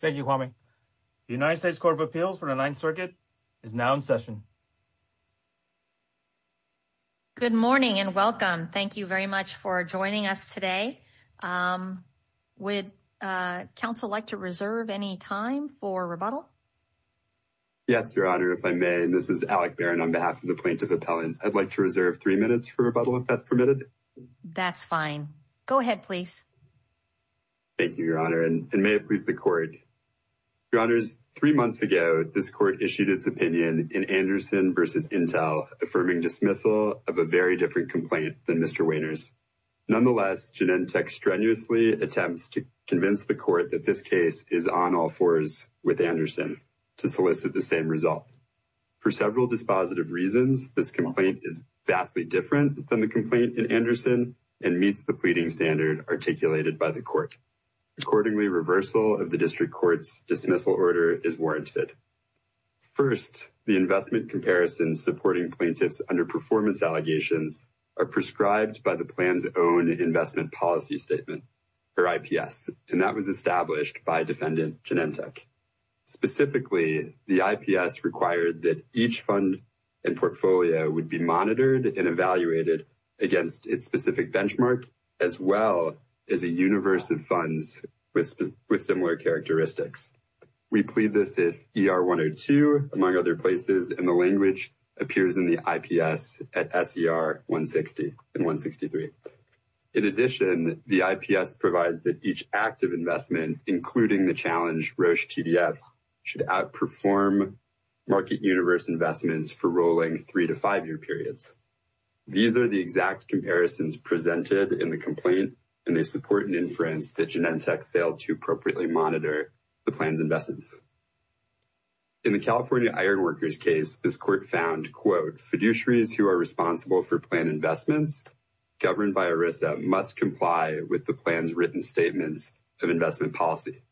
Thank you, Kwame. The United States Court of Appeals for the Ninth Circuit is now in session. Good morning and welcome. Thank you very much for joining us today. Would counsel like to reserve any time for rebuttal? Yes, Your Honor. If I may, this is Alec Barron on behalf of the plaintiff appellant. I'd like to reserve three minutes for rebuttal if that's permitted. That's fine. Go ahead, please. Thank you, Your Honor, and may it please the Court. Your Honors, three months ago, this Court issued its opinion in Anderson v. Intel affirming dismissal of a very different complaint than Mr. Wehner's. Nonetheless, Genentech strenuously attempts to convince the Court that this case is on all fours with Anderson to solicit the same result. For several dispositive reasons, this complaint is vastly different than the complaint in Anderson and meets the pleading standard articulated by the Court. Accordingly, reversal of the District Court's dismissal order is warranted. First, the investment comparisons supporting plaintiffs' underperformance allegations are prescribed by the plan's own investment policy statement, or IPS, and that was established by Defendant Genentech. Specifically, the IPS required that each fund and portfolio would be monitored and evaluated against its specific benchmark, as well as a universe of funds with similar characteristics. We plead this at ER 102, among other places, and the language appears in the IPS at SER 160 and 163. In addition, the IPS provides that each active investment, including the challenge Roche TDFs, should perform market universe investments for rolling three- to five-year periods. These are the exact comparisons presented in the complaint, and they support an inference that Genentech failed to appropriately monitor the plan's investments. In the California Ironworkers case, this Court found, quote, fiduciaries who are responsible for plan investments governed by ERISA must comply with the plan's written statements of investment policy.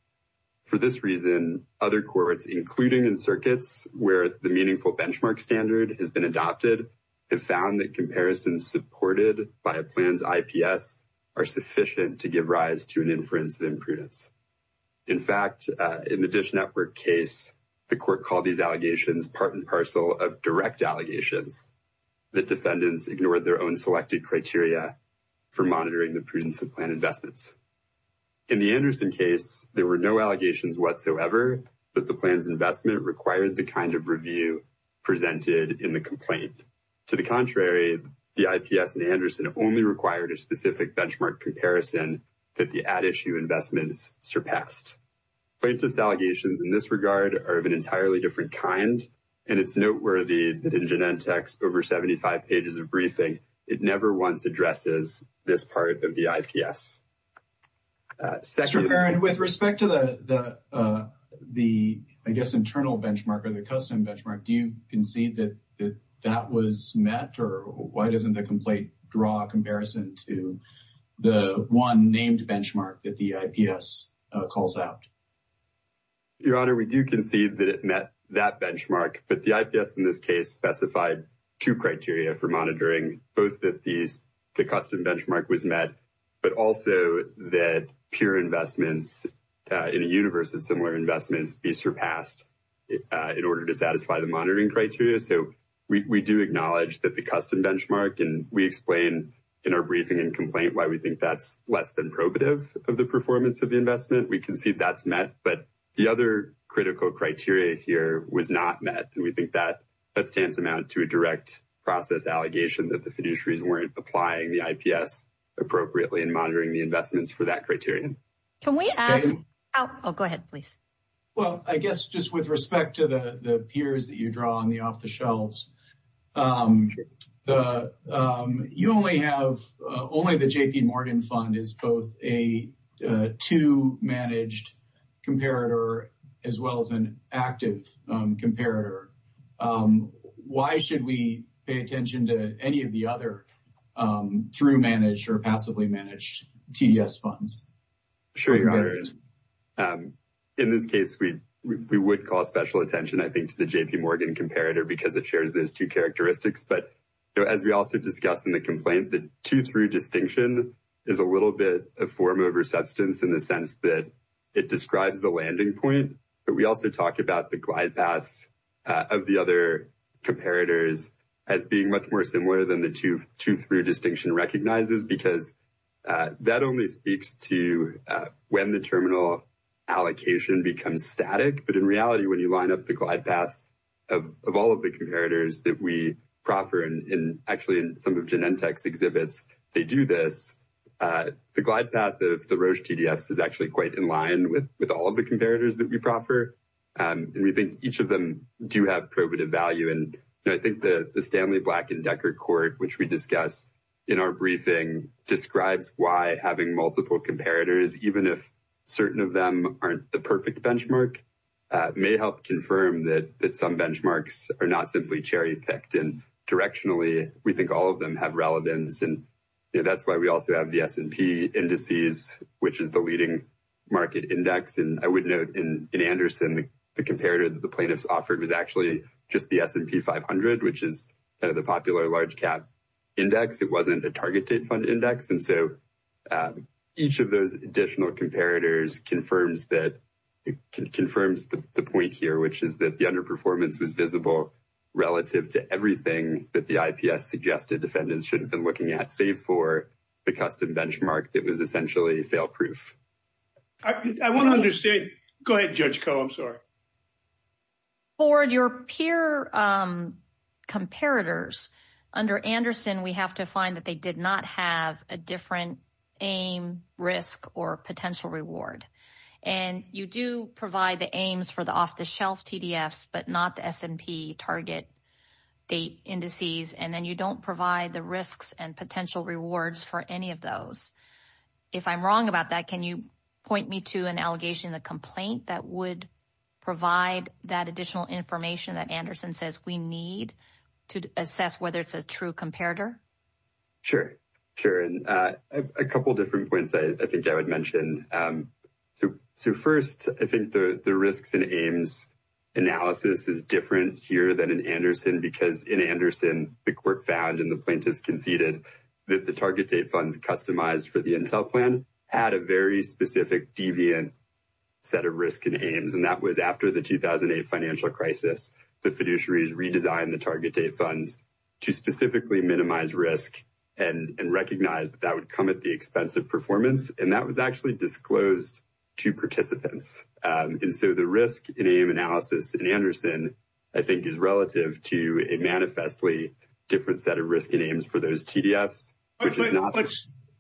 For this reason, other courts, including in circuits where the meaningful benchmark standard has been adopted, have found that comparisons supported by a plan's IPS are sufficient to give rise to an inference of imprudence. In fact, in the Dish Network case, the Court called these allegations part and parcel of direct allegations that defendants ignored their own selected criteria for monitoring the prudence of plan investments. In the Anderson case, there were no allegations whatsoever that the plan's investment required the kind of review presented in the complaint. To the contrary, the IPS in Anderson only required a specific benchmark comparison that the at-issue investments surpassed. Plaintiff's allegations in this regard are of an entirely different kind, and it's noteworthy that in Genentech's over 75 pages of briefing, it never once addresses this part of the IPS. Mr. Perrin, with respect to the, I guess, internal benchmark or the custom benchmark, do you concede that that was met, or why doesn't the complaint draw a comparison to the one named benchmark that the IPS calls out? Your Honor, we do concede that it met that benchmark, but the IPS in this case specified two criteria for monitoring, both that the custom benchmark was met, but also that peer investments in a universe of similar investments be surpassed in order to satisfy the monitoring criteria. So, we do acknowledge that the custom benchmark, and we explain in our briefing and complaint why we think that's less than probative of the performance of the investment. We concede that's met, but the other critical criteria here was not met, and we think that stands amount to a direct process allegation that the fiduciaries weren't applying the IPS appropriately in monitoring the investments for that criterion. Can we ask? Oh, go ahead, please. Well, I guess just with respect to the peers that you draw on the off-the-shelves, the, you only have, only the J.P. Morgan Fund is both a two-managed comparator, as well as an active comparator. Why should we pay attention to any of the other through-managed or passively-managed TDS funds? Sure, Your Honor. In this case, we would call special attention, I think, to the J.P. Morgan comparator because it shares those two characteristics, but as we also discussed in the complaint, the two-through distinction is a little bit of form over substance in the sense that it describes the landing point, but we also talk about the glide paths of the other comparators as being much more similar than the two-through distinction recognizes because that only speaks to when the terminal allocation becomes static, but in reality, when you line up the glide paths of all of the comparators that we proffer, and actually in some of Genentech's exhibits, they do this, the glide path of the Roche TDS is actually quite in line with all of the comparators that we proffer, and we think each of them do have probative value, and I think the Stanley, Black, and Decker court, which we discussed in our briefing, describes why having multiple comparators, even if certain of them aren't the perfect benchmark, may help confirm that some benchmarks are not simply cherry-picked, and directionally, we think all of them have relevance, and that's why we also have the S&P indices, which is the leading market index, and I would note in Anderson, the comparator that the plaintiffs offered was actually just the S&P 500, which is kind of the popular large cap index. It wasn't a targeted fund index, and so each of those additional comparators confirms the point here, which is that the underperformance was visible relative to everything that the IPS suggested defendants shouldn't have been looking at, save for the custom benchmark that was essentially fail-proof. I want to understand, go ahead, Judge Koh, I'm sorry. For your peer comparators, under Anderson, we have to find that they did not have a different aim, risk, or potential reward, and you do provide the aims for the off-the-shelf TDFs, but not the S&P target date indices, and then you don't provide the risks and potential rewards for any of those. If I'm wrong about that, can you point me to an allegation in the complaint that would provide that additional information that Anderson says we need to assess whether it's a true comparator? Sure, sure, and a couple different points I think I would mention. So first, I think the risks and aims analysis is different here than in Anderson, because in Anderson, the court found and the plaintiffs conceded that the target date funds customized for the Intel plan had a very specific deviant set of risk and aims, and that was after the 2008 financial crisis. The fiduciaries redesigned the target date funds to specifically minimize risk and recognize that that would come at the expense of performance, and that was actually disclosed to participants. And so the risk and aim analysis in Anderson I think is relative to manifestly different set of risk and aims for those TDFs, which is not.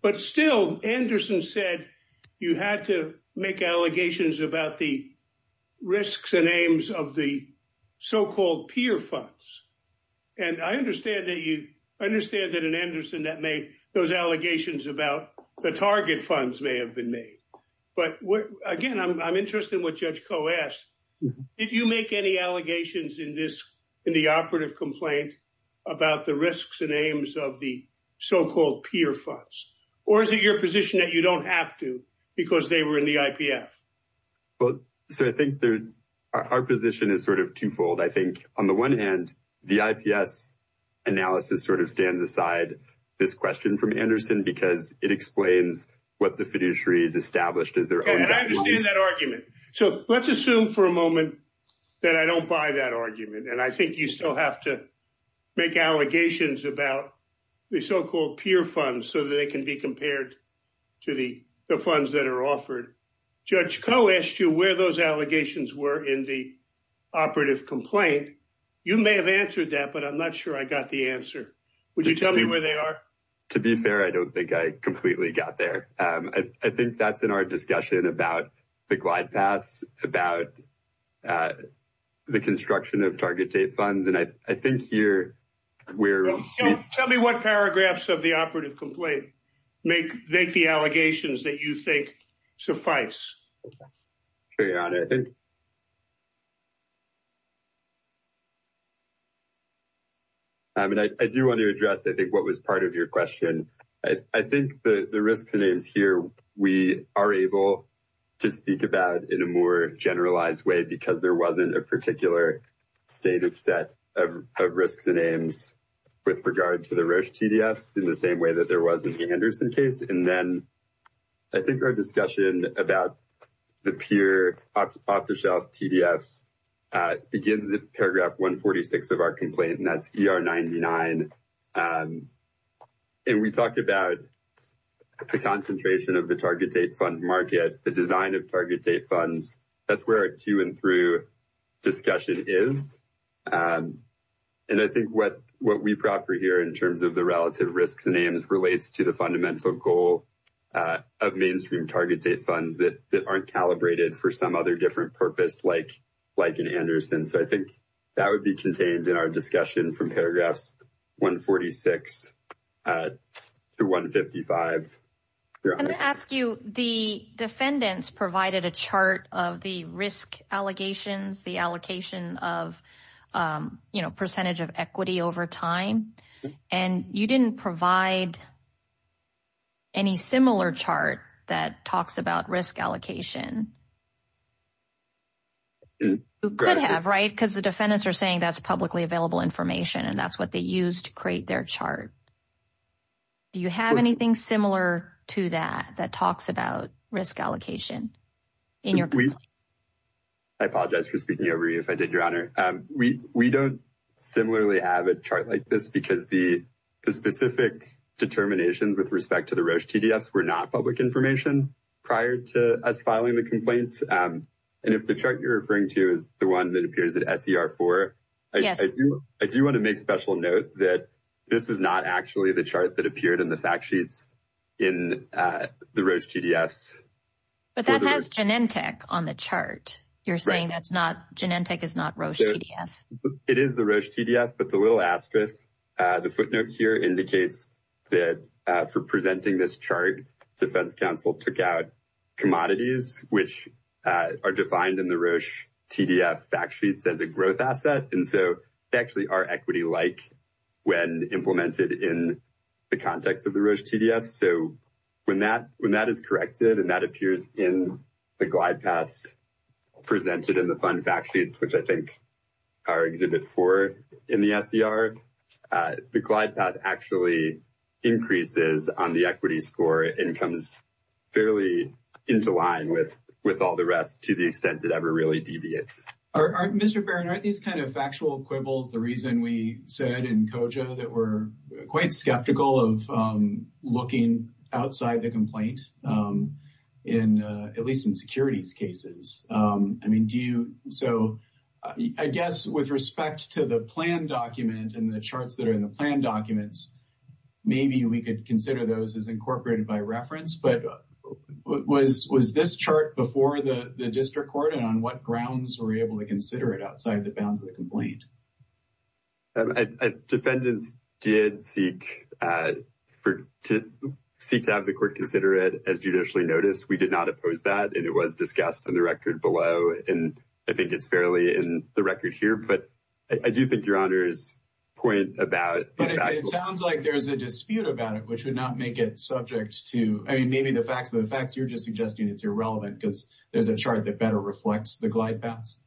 But still, Anderson said you had to make allegations about the risks and aims of the so-called peer funds, and I understand that you understand that in Anderson that made those allegations about the target funds may have been made. But again, I'm interested in what Judge Koh asked. Did you make any allegations in the operative complaint about the risks and aims of the so-called peer funds, or is it your position that you don't have to because they were in the IPF? Well, so I think our position is sort of twofold. I think on the one hand, the IPS analysis sort of stands aside this question from Anderson because it explains what the fiduciaries established as their own. I understand that argument. So let's assume for a moment that I don't buy that argument, and I think you still have to make allegations about the so-called peer funds so that they can be compared to the funds that are offered. Judge Koh asked you where those allegations were in the operative complaint. You may have answered that, but I'm not sure I got the answer. Would you tell me where they are? To be fair, I don't think I completely got there. I think that's in our discussion about the glide paths, about the construction of target date funds. Tell me what paragraphs of the operative complaint make the allegations that you think suffice. I do want to address, I think, what was part of your question. I think the risks and aims here we are able to speak about in a more generalized way because there wasn't a particular state of set of risks and aims with regard to the Roche TDFs in the same way that there was in the Anderson case. And then I think our discussion about the peer off-the-shelf TDFs begins at paragraph 146 of our complaint, and that's ER99. And we talk about the concentration of the target date fund market, the design of target date funds. That's where our to and through discussion is. And I think what we proffer here in terms of the relative risks and aims relates to the fundamental goal of mainstream target date funds that aren't calibrated for some other different purpose like an Anderson. So I think that would be contained in our discussion from paragraphs 146 to 155. Can I ask you, the defendants provided a chart of the risk allegations, the allocation of, you know, percentage of equity over time, and you didn't provide any similar chart that talks about risk allocation. You could have, right, because the defendants are saying that's publicly available information and that's what they use to create their chart. Do you have anything similar to that that talks about risk allocation in your complaint? I apologize for speaking over you if I did, your honor. We don't similarly have a chart like this because the specific determinations with respect to the Roche TDFs were not public information prior to us filing the complaint. And if the chart you're referring to is the one that appears at SER4, I do want to make special note that this is not actually the chart that appeared in the fact sheets in the Roche TDFs. But that has Genentech on the chart. You're saying that's not, Genentech is not Roche TDF. It is the Roche TDF, but the little asterisk, the footnote here indicates that for presenting this chart, defense counsel took out commodities which are defined in the Roche TDF fact sheets as a growth asset. And so they actually are equity-like when implemented in the context of the Roche TDFs. So when that is corrected and that appears in the glide paths presented in the fund fact sheets, which I think are Exhibit 4 in the SER, the glide path actually increases on the equity score and comes fairly into line with all the rest to the extent it ever really deviates. Mr. Barron, aren't these kind of factual quibbles the reason we said in COJA that we're quite skeptical of looking outside the complaint, at least in securities cases? I mean, so I guess with respect to the plan document and the charts that are in the plan documents, maybe we could consider those as incorporated by reference, but was this chart before the district court and on what grounds were we able to consider it outside the bounds of the complaint? Defendants did seek to have the court consider it as judicially noticed. We did oppose that and it was discussed in the record below. And I think it's fairly in the record here, but I do think Your Honor's point about- But it sounds like there's a dispute about it, which would not make it subject to, I mean, maybe the facts of the facts, you're just suggesting it's irrelevant because there's a chart that better reflects the glide paths.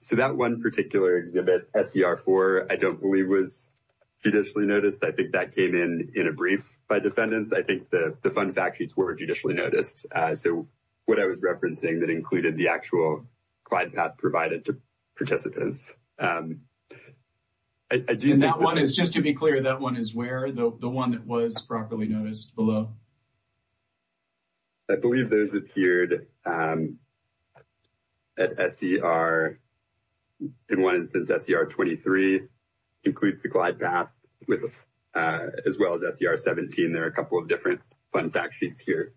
So that one particular exhibit, SER 4, I don't believe was judicially noticed. I think that came in a brief by defendants. I think the fund fact sheets were judicially noticed. So what I was referencing that included the actual glide path provided to participants. And that one is, just to be clear, that one is where? The one that was properly noticed below? I believe those appeared at SER, in one instance, SER 23 includes the glide path as well as SER 17. There are a couple of different fund fact sheets here.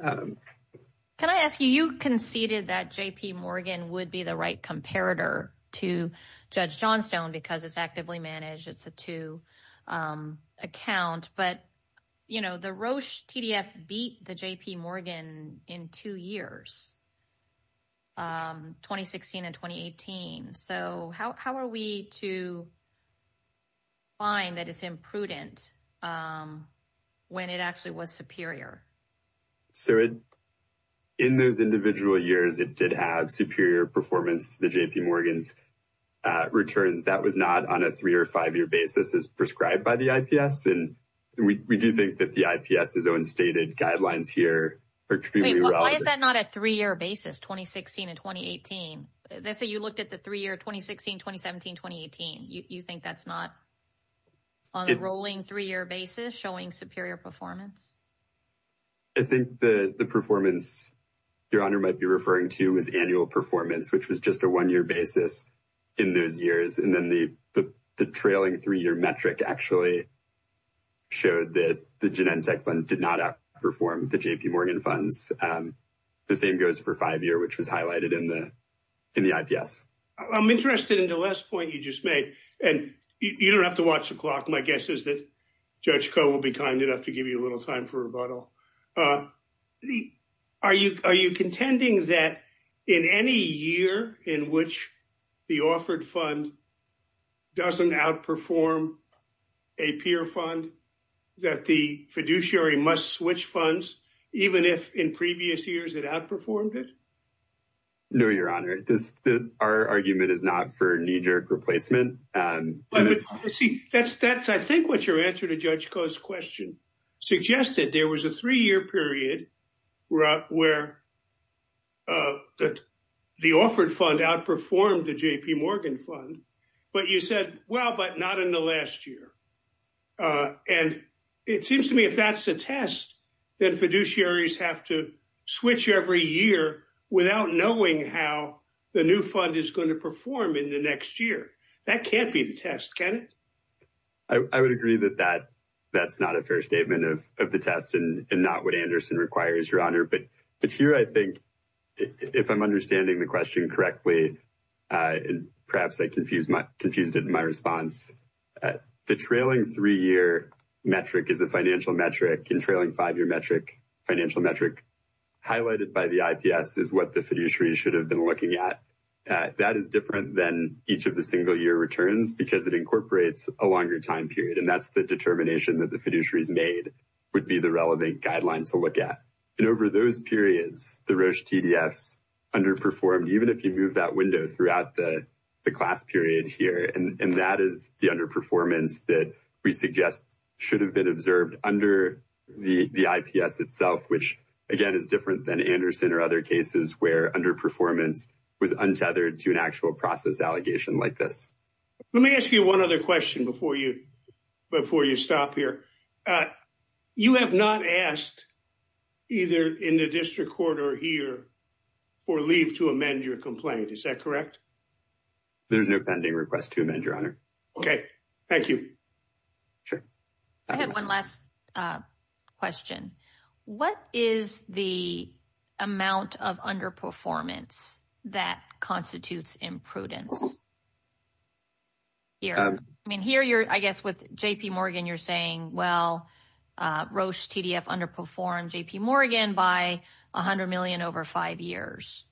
Can I ask you, you conceded that J.P. Morgan would be the right comparator to Judge Johnstone because it's actively managed, it's a two account, but the Roche TDF beat the J.P. Morgan in two years, 2016 and 2018. So how are we to find that it's imprudent when it actually was superior? So in those individual years, it did have superior performance to the J.P. Morgan's returns. That was not on a three or five year basis as prescribed by the IPS. And we do think that the IPS's own stated guidelines here. Why is that not a three year basis, 2016 and 2018? Let's say you looked at the three year 2016, 2017, 2018. You think that's not on a rolling three year basis showing superior performance? I think the performance Your Honor might be referring to is annual performance, which was just a one year basis in those years. And then the trailing three year metric actually showed that the Genentech funds did not outperform the J.P. Morgan funds. The same goes for five year, which was highlighted in the IPS. I'm interested in the last point you just made, and you don't have to watch the clock. My guess is that Judge Koh will be kind enough to give you a little time for rebuttal. Are you contending that in any year in which the offered fund doesn't outperform a peer fund, that the fiduciary must switch funds, even if in previous years it outperformed it? No, Your Honor. Our argument is not for knee jerk replacement. But you see, that's I think what your answer to Judge Koh's question suggested. There was a three year period where the offered fund outperformed the J.P. Morgan fund. But you said, well, but not in the last year. And it seems to me if that's the test, then fiduciaries have to switch every year without knowing how the new fund is going to perform in next year. That can't be the test, can it? I would agree that that's not a fair statement of the test and not what Anderson requires, Your Honor. But here I think, if I'm understanding the question correctly, and perhaps I confused it in my response, the trailing three year metric is a financial metric, and trailing five year financial metric highlighted by the IPS is the fiduciary should have been looking at. That is different than each of the single year returns, because it incorporates a longer time period. And that's the determination that the fiduciary's made would be the relevant guideline to look at. And over those periods, the Roche TDFs underperformed, even if you move that window throughout the class period here. And that is the underperformance that we suggest should have been observed under the IPS itself, which, again, is different than or other cases where underperformance was untethered to an actual process allegation like this. Let me ask you one other question before you stop here. You have not asked either in the district court or here for leave to amend your complaint, is that correct? There's no pending request to amend, Your Honor. Okay, thank you. Sure. I had one last question. What is the amount of underperformance that constitutes imprudence? Here, I mean, here, you're, I guess, with JP Morgan, you're saying, well, Roche TDF underperformed JP Morgan by 100 million over five years.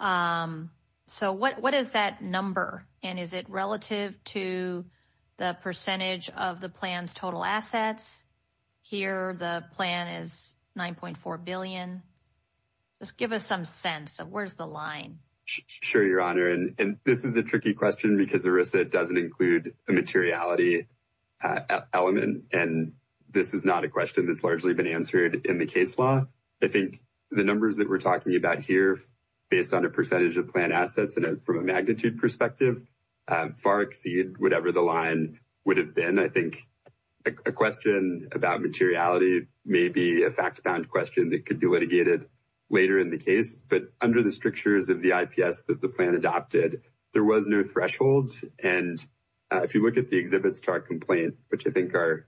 So what is that number? And is it relative to the percentage of the plan's total assets? Here, the plan is 9.4 billion. Just give us some sense of where's the line. Sure, Your Honor. And this is a tricky question because ERISA doesn't include a materiality element. And this is not a question that's largely been answered in the case law. I think the numbers that we're talking about here, based on a percentage of plan assets and from a magnitude perspective, far exceed whatever the line would have been. I think a question about materiality may be a fact-found question that could be litigated later in the case. But under the strictures of the IPS that the plan adopted, there was no threshold. And if you look at the exhibits to our complaint, which I think are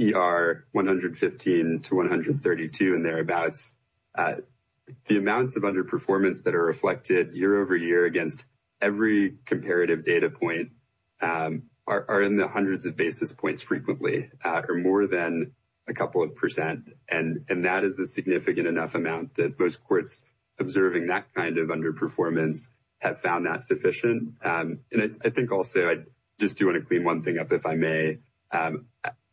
ER 115 to 132 and thereabouts, the amounts of underperformance that are reflected year over year against every comparative data point are in the hundreds of basis points frequently, or more than a couple of percent. And that is a significant enough amount that most courts observing that kind of underperformance have found that sufficient. And I think also, I just do want to clean one thing up, if I may.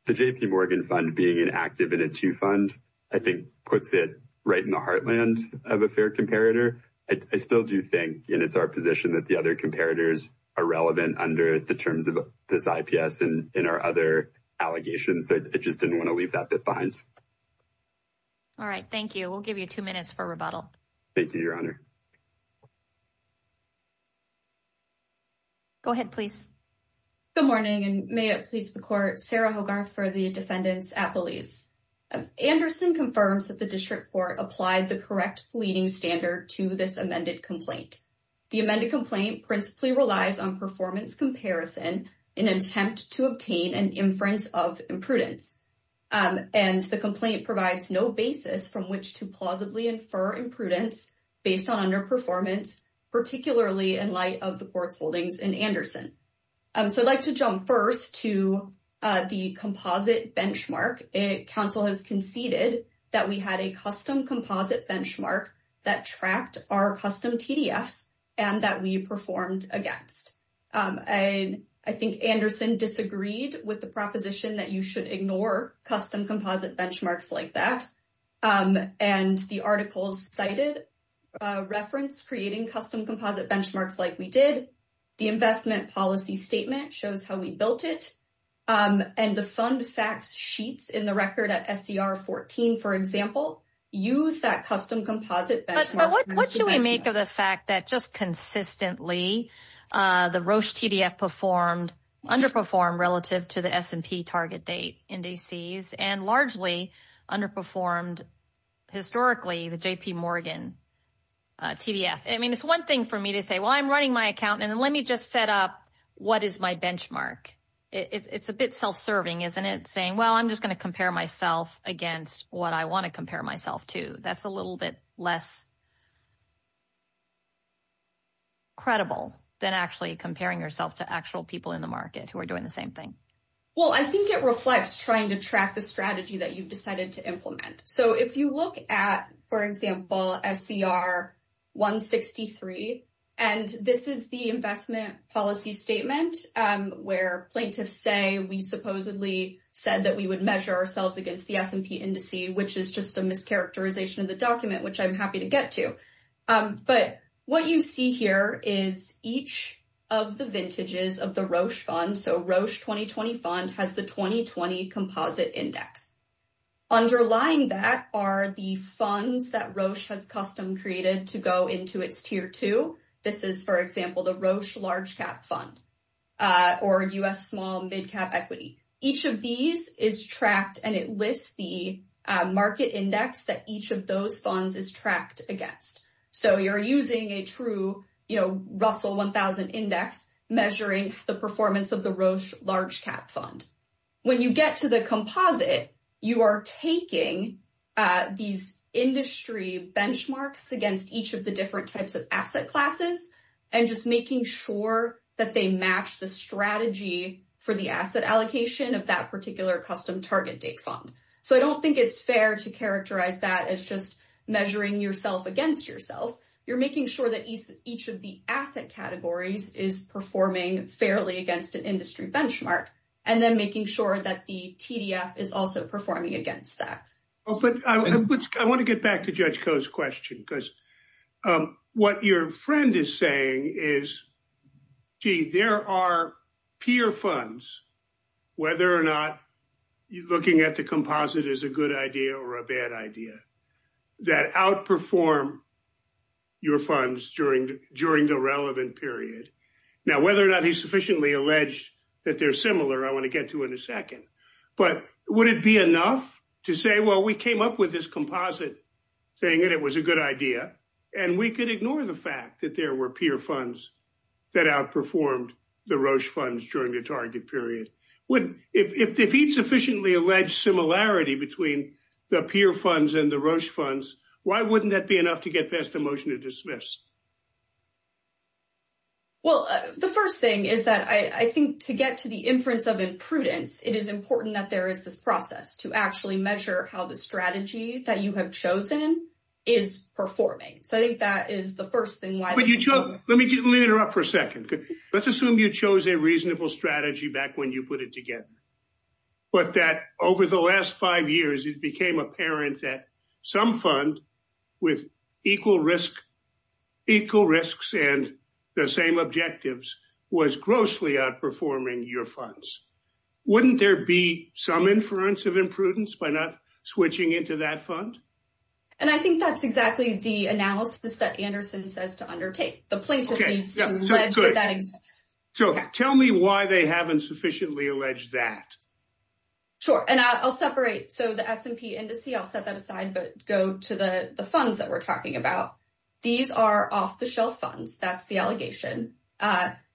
The JP Morgan Fund being an active in a two fund, I think, puts it right in the heartland of a fair comparator. I still do think, and it's our position, that the other comparators are relevant under the terms of this IPS and in our other allegations. I just didn't want to leave that bit behind. All right. Thank you. We'll give you two minutes for rebuttal. Thank you, Your Honor. Go ahead, please. Good morning, and may it please the court, Sarah Hogarth for the defendants at Belize. Anderson confirms that the district court applied the correct pleading standard to this amended complaint. The amended complaint principally relies on performance comparison in an attempt to obtain an inference of imprudence. And the complaint provides no basis from which to infer imprudence based on underperformance, particularly in light of the court's holdings in Anderson. So I'd like to jump first to the composite benchmark. Council has conceded that we had a custom composite benchmark that tracked our custom TDFs and that we performed against. I think Anderson disagreed with the proposition that you should ignore custom composite benchmarks like that. And the articles cited reference creating custom composite benchmarks like we did. The investment policy statement shows how we built it. And the fund facts sheets in the record at SCR 14, for example, use that custom composite. What do we make of the fact that just consistently the Roche TDF performed, underperformed relative to the S&P target date indices and largely underperformed historically the JP Morgan TDF? I mean, it's one thing for me to say, well, I'm running my account and let me just set up what is my benchmark. It's a bit self-serving, isn't it? Saying, well, I'm just going to compare myself against what I want to compare myself to. That's a little bit less credible than actually comparing yourself to actual people in the market who are doing the same thing. Well, I think it reflects trying to track the strategy that you've decided to implement. So if you look at, for example, SCR 163, and this is the investment policy statement where plaintiffs say we supposedly said that we would measure ourselves against the S&P indice, which is just a mischaracterization of the document, which I'm happy to confirm. But what you see here is each of the vintages of the Roche fund. So Roche 2020 fund has the 2020 composite index. Underlying that are the funds that Roche has custom created to go into its tier two. This is, for example, the Roche large cap fund or US small and big cap equity. Each of these is tracked and it lists the market index that each of those funds is tracked against. So you're using a true Russell 1000 index measuring the performance of the Roche large cap fund. When you get to the composite, you are taking these industry benchmarks against each of the different types of asset classes and just making sure that they match the strategy for the asset allocation of that particular custom target date fund. So I don't think it's fair to characterize that as just measuring yourself against yourself. You're making sure that each of the asset categories is performing fairly against an industry benchmark, and then making sure that the TDF is also performing against that. But I want to get back to Judge Koh's question because what your friend is saying is, gee, there are peer funds, whether or not looking at the composite is a good idea or a bad idea, that outperform your funds during the relevant period. Now, whether or not he's sufficiently alleged that they're similar, I want to get to in a second. But would it be enough to say, well, we came up with this composite saying that it was a good idea, and we could ignore the fact that there were peer funds that outperformed the Roche funds during the target period? If he'd sufficiently alleged similarity between the peer funds and the Roche funds, why wouldn't that be enough to get past the motion to dismiss? Well, the first thing is that I think to get to the inference of imprudence, it is important that there is this process to actually measure how the strategy that you have chosen is performing. So I think that is the first thing. Let me interrupt for a second. Let's assume you chose a reasonable strategy back when you put it together, but that over the last five years, it became apparent that some fund with equal risks and the same objectives was grossly outperforming your funds. Wouldn't there be some inference of imprudence by not switching into that fund? And I think that's exactly the analysis that Anderson says to undertake. The plaintiff needs to allege that that exists. So tell me why they haven't sufficiently alleged that. Sure, and I'll separate. So the S&P indice, I'll set that aside, but go to the funds that we're talking about. These are off-the-shelf funds. That's the allegation.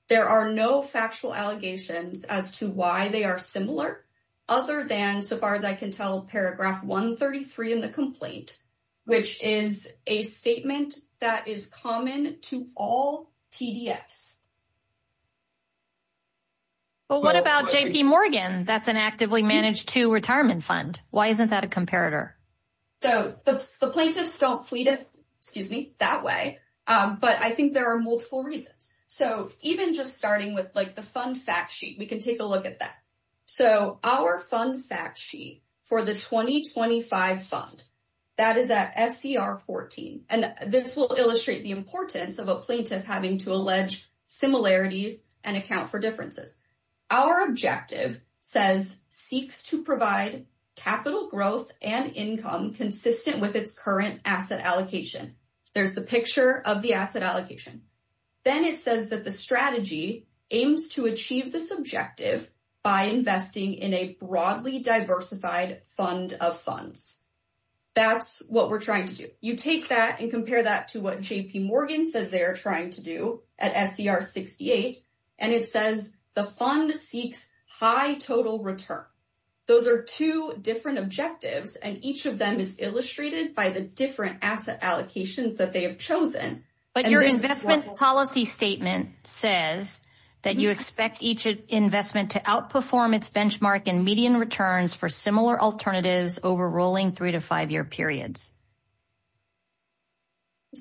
There are no factual allegations as to why they are similar, other than so far as I can tell, paragraph 133 in the complaint, which is a statement that is common to all TDFs. But what about JP Morgan? That's an actively managed to retirement fund. Why isn't that a but I think there are multiple reasons. So even just starting with like the fund fact sheet, we can take a look at that. So our fund fact sheet for the 2025 fund, that is at SCR 14. And this will illustrate the importance of a plaintiff having to allege similarities and account for differences. Our objective says, seeks to provide capital growth and income consistent with its current asset allocation. There's the picture of the asset allocation. Then it says that the strategy aims to achieve this objective by investing in a broadly diversified fund of funds. That's what we're trying to do. You take that and compare that to what JP Morgan says they are trying to do at SCR 68. And it says the fund seeks high total return. Those are two objectives and each of them is illustrated by the different asset allocations that they have chosen. But your investment policy statement says that you expect each investment to outperform its benchmark and median returns for similar alternatives over rolling three to five year periods.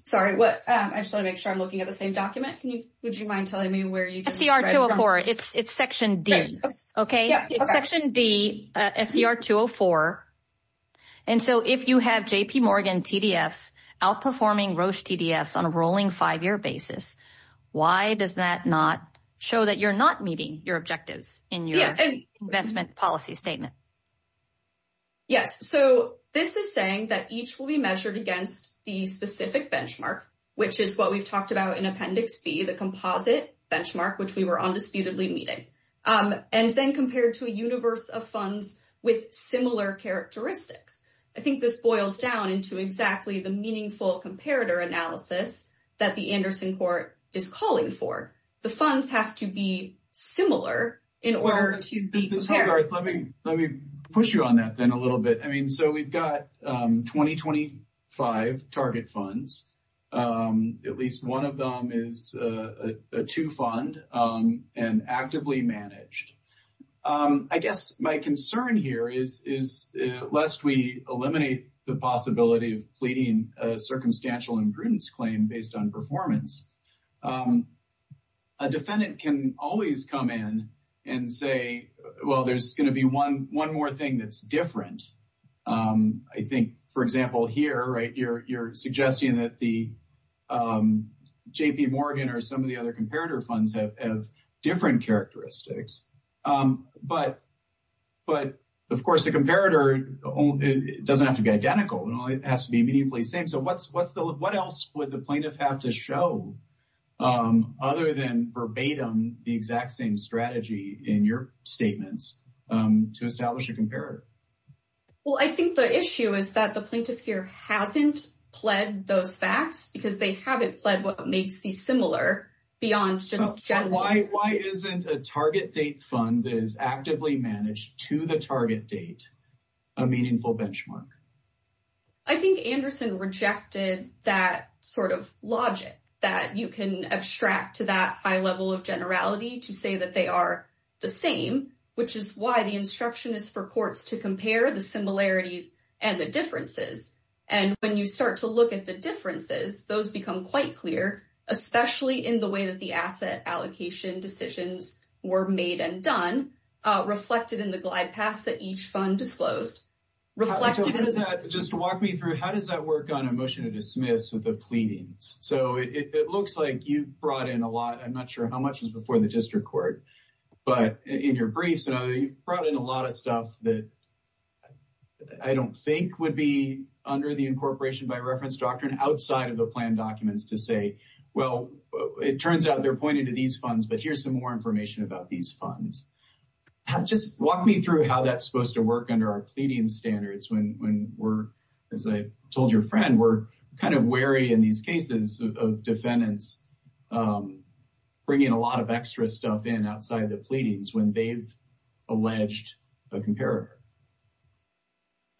Sorry, I just want to make sure I'm looking at the same document. Would you mind telling me where it is? It's SCR 204. It's section D, okay? It's section D, SCR 204. And so if you have JP Morgan TDFs outperforming Roche TDFs on a rolling five year basis, why does that not show that you're not meeting your objectives in your investment policy statement? Yes. So this is saying that each will be measured against the specific benchmark, which is what we've talked about in Appendix B, the composite benchmark, which we were undisputedly meeting, and then compared to a universe of funds with similar characteristics. I think this boils down into exactly the meaningful comparator analysis that the Anderson Court is calling for. The funds have to be similar in order to be compared. Let me push you on that then a little bit. I mean, so we've got 2025 target funds. At least one of them is a two fund and actively managed. I guess my concern here is, lest we eliminate the possibility of pleading a circumstantial imprudence claim based on performance, a defendant can always come in and say, well, there's going to be one more thing that's different. I think, for example, here, right, you're suggesting that the JP Morgan or some of the other comparator funds have different characteristics. But of course, the comparator doesn't have to be identical. It only has to be meaningfully same. So what else would the plaintiff have to show other than verbatim the exact same strategy in your statements to establish a comparator? Well, I think the issue is that the plaintiff here hasn't pled those facts because they haven't pled what makes these similar beyond just gen Y. Why isn't a target date fund that is actively managed to the target date a meaningful benchmark? I think Anderson rejected that sort of logic that you can abstract to that high level of generality to say that they are the same, which is why the instruction is for courts to compare the similarities and the differences. And when you start to look at the differences, those become quite clear, especially in the way that the asset allocation decisions were made and done, reflected in the glide paths that each fund disclosed. Just walk me through, how does that work on a motion to dismiss with the pleadings? So it looks like you've brought in a lot. I'm not sure how much was before the district court, but in your briefs, you've brought in a lot of stuff that I don't think would be under the incorporation by reference doctrine outside of the plan documents to say, well, it turns out they're pointing to these funds, but here's some more information about these funds. Just walk me through how that's supposed to work under our pleading standards. When we're, as I told your friend, we're kind of wary in these cases of defendants bringing a lot of extra stuff in outside of the pleadings when they've alleged a comparator.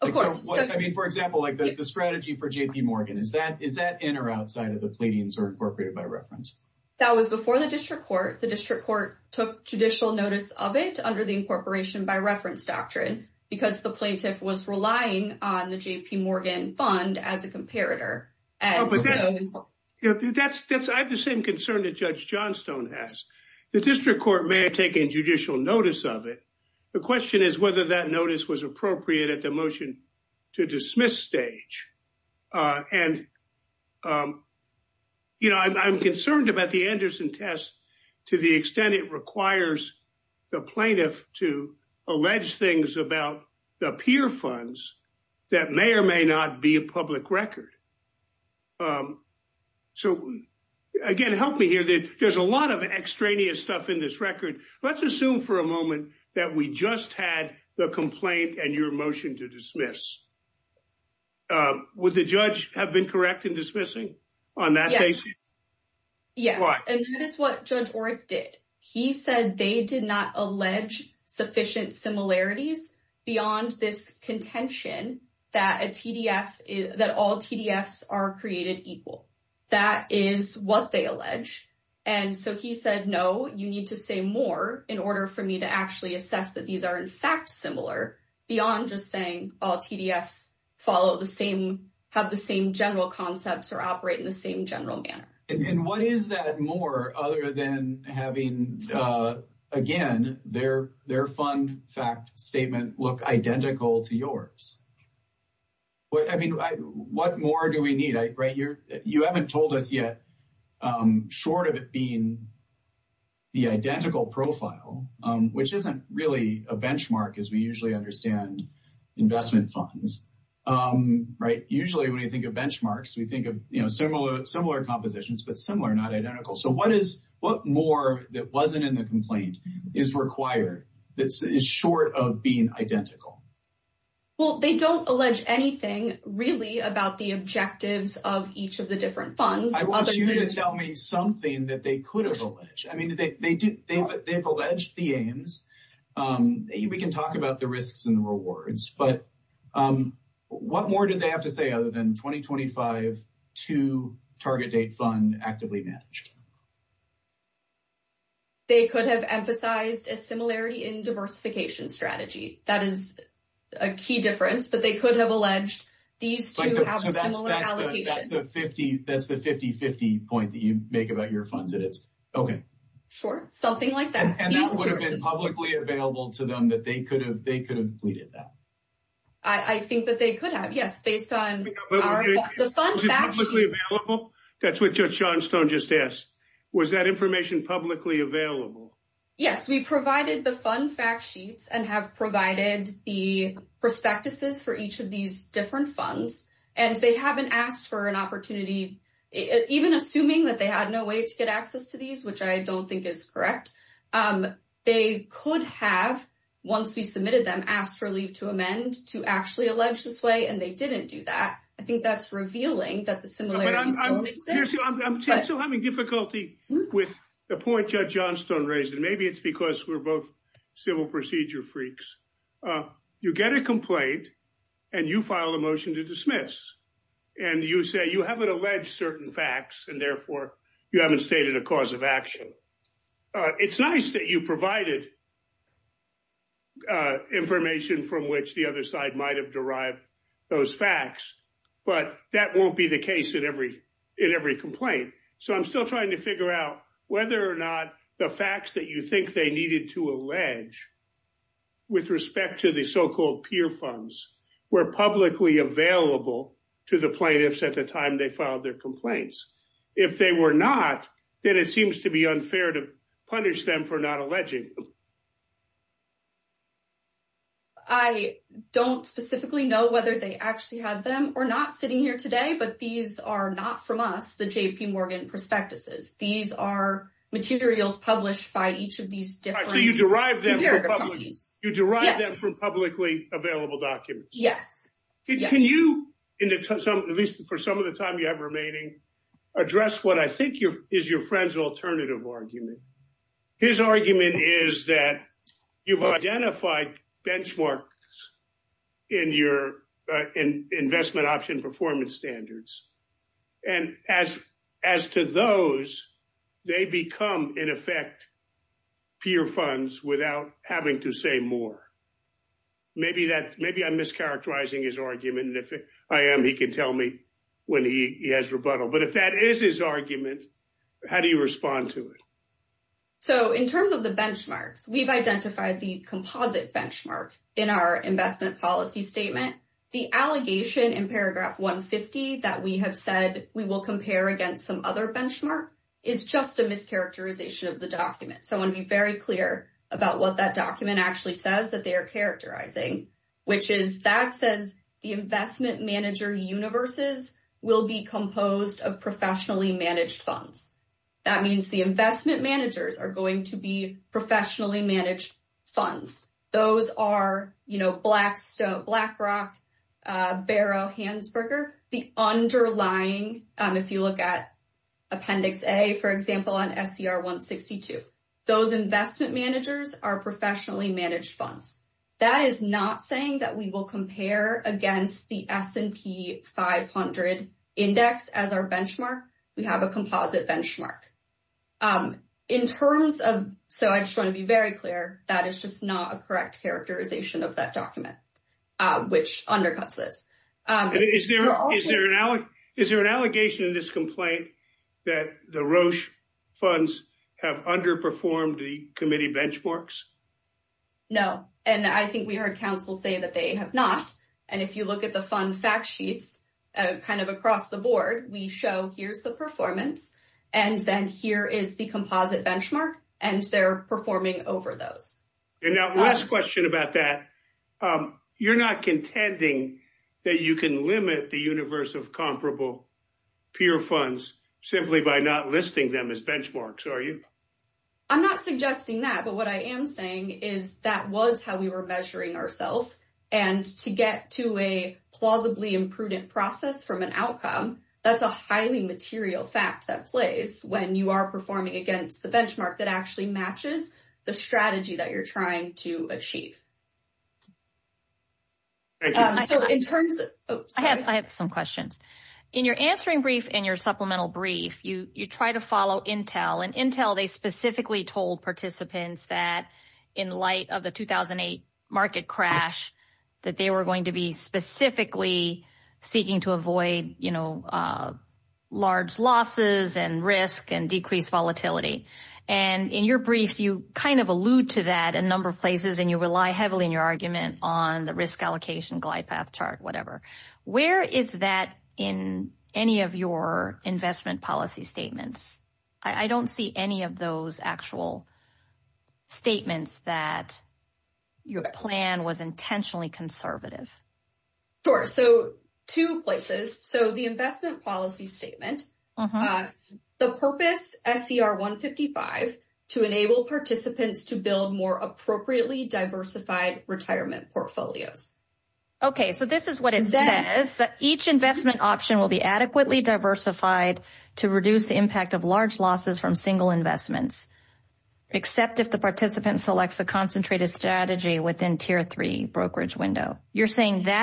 Of course. I mean, for example, like the strategy for JP Morgan, is that in or outside of the pleadings or incorporated by reference? That was before the district court, the district court took judicial notice of it under the incorporation by reference doctrine because the plaintiff was relying on the JP Morgan fund as a comparator. I have the same concern that Judge Johnstone has. The district court may have taken judicial notice of it. The question is whether that notice was appropriate at the motion to dismiss stage. I'm concerned about the Anderson test to the extent it requires the plaintiff to allege things about the peer funds that may or may not be a public record. So again, help me here that there's a lot of extraneous stuff in this record. Let's assume for a moment that we just had the complaint and your motion to dismiss. Would the judge have been correct in dismissing on that? Yes. And that is what Judge Orrick did. He said they did not allege sufficient similarities beyond this contention that all TDFs are created equal. That is what they allege. And so he said, no, you need to say more in order for me to actually assess that these are, in fact, similar beyond just saying all TDFs follow the same, have the same general concepts or operate in the same general manner. And what is that more other than having, again, their fund fact statement look identical to yours? What more do we need? You haven't told us yet, short of it being the identical profile, which isn't really a benchmark as we usually understand investment funds. Usually when you get benchmarks, we think of similar compositions, but similar, not identical. So what more that wasn't in the complaint is required that is short of being identical? Well, they don't allege anything really about the objectives of each of the different funds. I want you to tell me something that they could have alleged. I mean, they've alleged the aims. We can talk about the risks and rewards, but what more did they have to say other than 2025 to target date fund actively managed? They could have emphasized a similarity in diversification strategy. That is a key difference, but they could have alleged these two have a similar allocation. That's the 50-50 point that you make about your funds that it's okay. Sure. Something like that. That would have been publicly available to them that they could have pleaded that. I think that they could have, yes, based on the fund fact sheets. That's what Judge Johnstone just asked. Was that information publicly available? Yes, we provided the fund fact sheets and have provided the prospectuses for each of these different funds, and they haven't asked for an opportunity, even assuming that they had no way to get access to these, which I don't think is correct. They could have, once we submitted them, asked for leave to amend to actually allege this way, and they didn't do that. I think that's revealing that the similarities don't exist. I'm still having difficulty with the point Judge Johnstone raised, and maybe it's because we're both civil procedure freaks. You get a complaint, and you file a motion to dismiss, and you say you haven't alleged certain facts, and therefore, you haven't stated a cause of action. It's nice that you provided information from which the other side might have derived those facts, but that won't be the case in every complaint. I'm still trying to figure out whether or not the facts that you think they needed to allege with respect to the so-called peer funds were publicly available to the plaintiffs at the time they filed their complaints. If they were not, then it seems to be unfair to punish them for not alleging them. I don't specifically know whether they actually had them or not sitting here today, but these are not from us, the J.P. Morgan prospectuses. These are materials published by each of these different comparative companies. So you derived them from publicly available documents? Yes. Can you, at least for some of the time you have remaining, address what I think is your friend's alternative argument? His argument is that you've identified benchmarks in your investment option performance standards, and as to those, they become in effect peer funds without having to say more. Maybe I'm mischaracterizing his argument, and if I am, he can tell me when he has rebuttal. But if that is his argument, how do you respond to it? So in terms of the benchmarks, we've identified the composite benchmark in our investment policy statement. The allegation in paragraph 150 that we have said we will compare against some other benchmark is just a mischaracterization of the document. So I want to be very clear about what that document actually says that they are characterizing, which is that says the investment manager universes will be composed of professionally managed funds. That means the investment managers are going to be professionally managed funds. Those are Blackstone, Blackrock, Barrow, Hansberger, the underlying, if you look at Appendix A, for example, on SCR 162. Those investment managers are professionally managed funds. That is not saying that we will compare against the S&P 500 index as our benchmark. We have a composite benchmark. In terms of, so I just want to be very clear, that is just not correct characterization of that document, which undercuts this. Is there an allegation in this complaint that the Roche funds have underperformed the committee benchmarks? No, and I think we heard counsel say that they have not. And if you look at the fund fact sheets kind of across the board, we show here's the performance, and then here is the composite benchmark, and they're performing over those. And now last question about that. You're not contending that you can limit the universe of comparable peer funds simply by not listing them as benchmarks, are you? I'm not suggesting that, but what I am saying is that was how we were measuring ourselves, and to get to a plausibly imprudent process from an outcome, that's a highly material fact that when you are performing against the benchmark that actually matches the strategy that you're trying to achieve. I have some questions. In your answering brief and your supplemental brief, you try to follow Intel, and Intel, they specifically told participants that in light of the 2008 market crash, that they were going to be specifically seeking to avoid, you know, large losses and risk and decrease volatility. And in your brief, you kind of allude to that a number of places, and you rely heavily on your argument on the risk allocation glide path chart, whatever. Where is that in any of your investment policy statements? I don't see any of those actual statements that your plan was intentionally conservative. Sure, so two places. So the investment policy statement, the purpose SCR 155, to enable participants to build more appropriately diversified retirement portfolios. Okay, so this is what it says, that each investment option will be adequately diversified to reduce the impact of large losses from single investments, except if the participant selects a That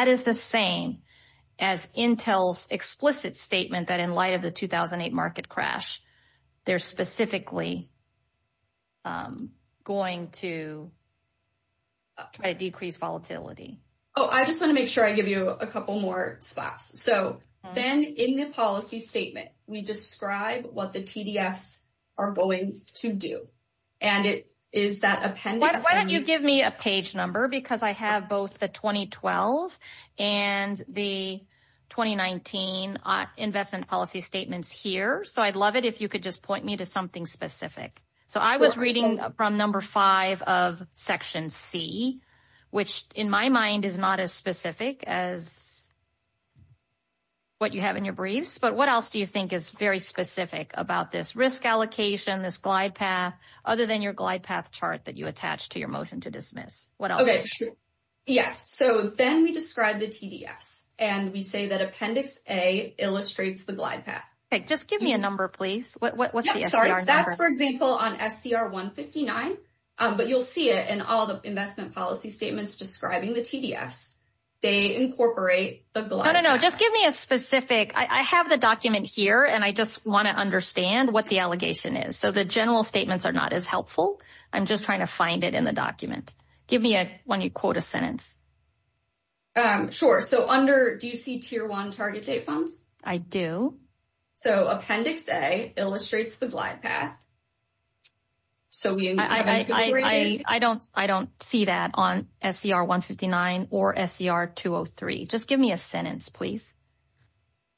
is the same as Intel's explicit statement that in light of the 2008 market crash, they're specifically going to try to decrease volatility. Oh, I just want to make sure I give you a couple more spots. So then in the policy statement, we describe what the TDFs are going to do. And it is that appendix. Why don't you give me a page number, because I have both the 2012 and the 2019 investment policy statements here. So I'd love it if you could just point me to something specific. So I was reading from number five of section C, which in my mind is not as specific as what you have in your briefs. But what else do you think is very specific about this risk allocation, this glide path, other than your glide path chart that you attach to your motion to dismiss? Okay, sure. Yes. So then we describe the TDFs, and we say that appendix A illustrates the glide path. Okay, just give me a number, please. Sorry, that's for example, on SCR 159. But you'll see it in all the investment policy statements describing the TDFs. They incorporate the glide path. No, no, no, just give me a specific. I have the document here, and I just want to understand what the allegation is. So the general statements are not as helpful. I'm just trying to find it in the document. Give me when you quote a sentence. Sure. So under, do you see tier one target date funds? I do. So appendix A illustrates the glide path. So I don't see that on SCR 159 or SCR 203. Just give me a sentence, please.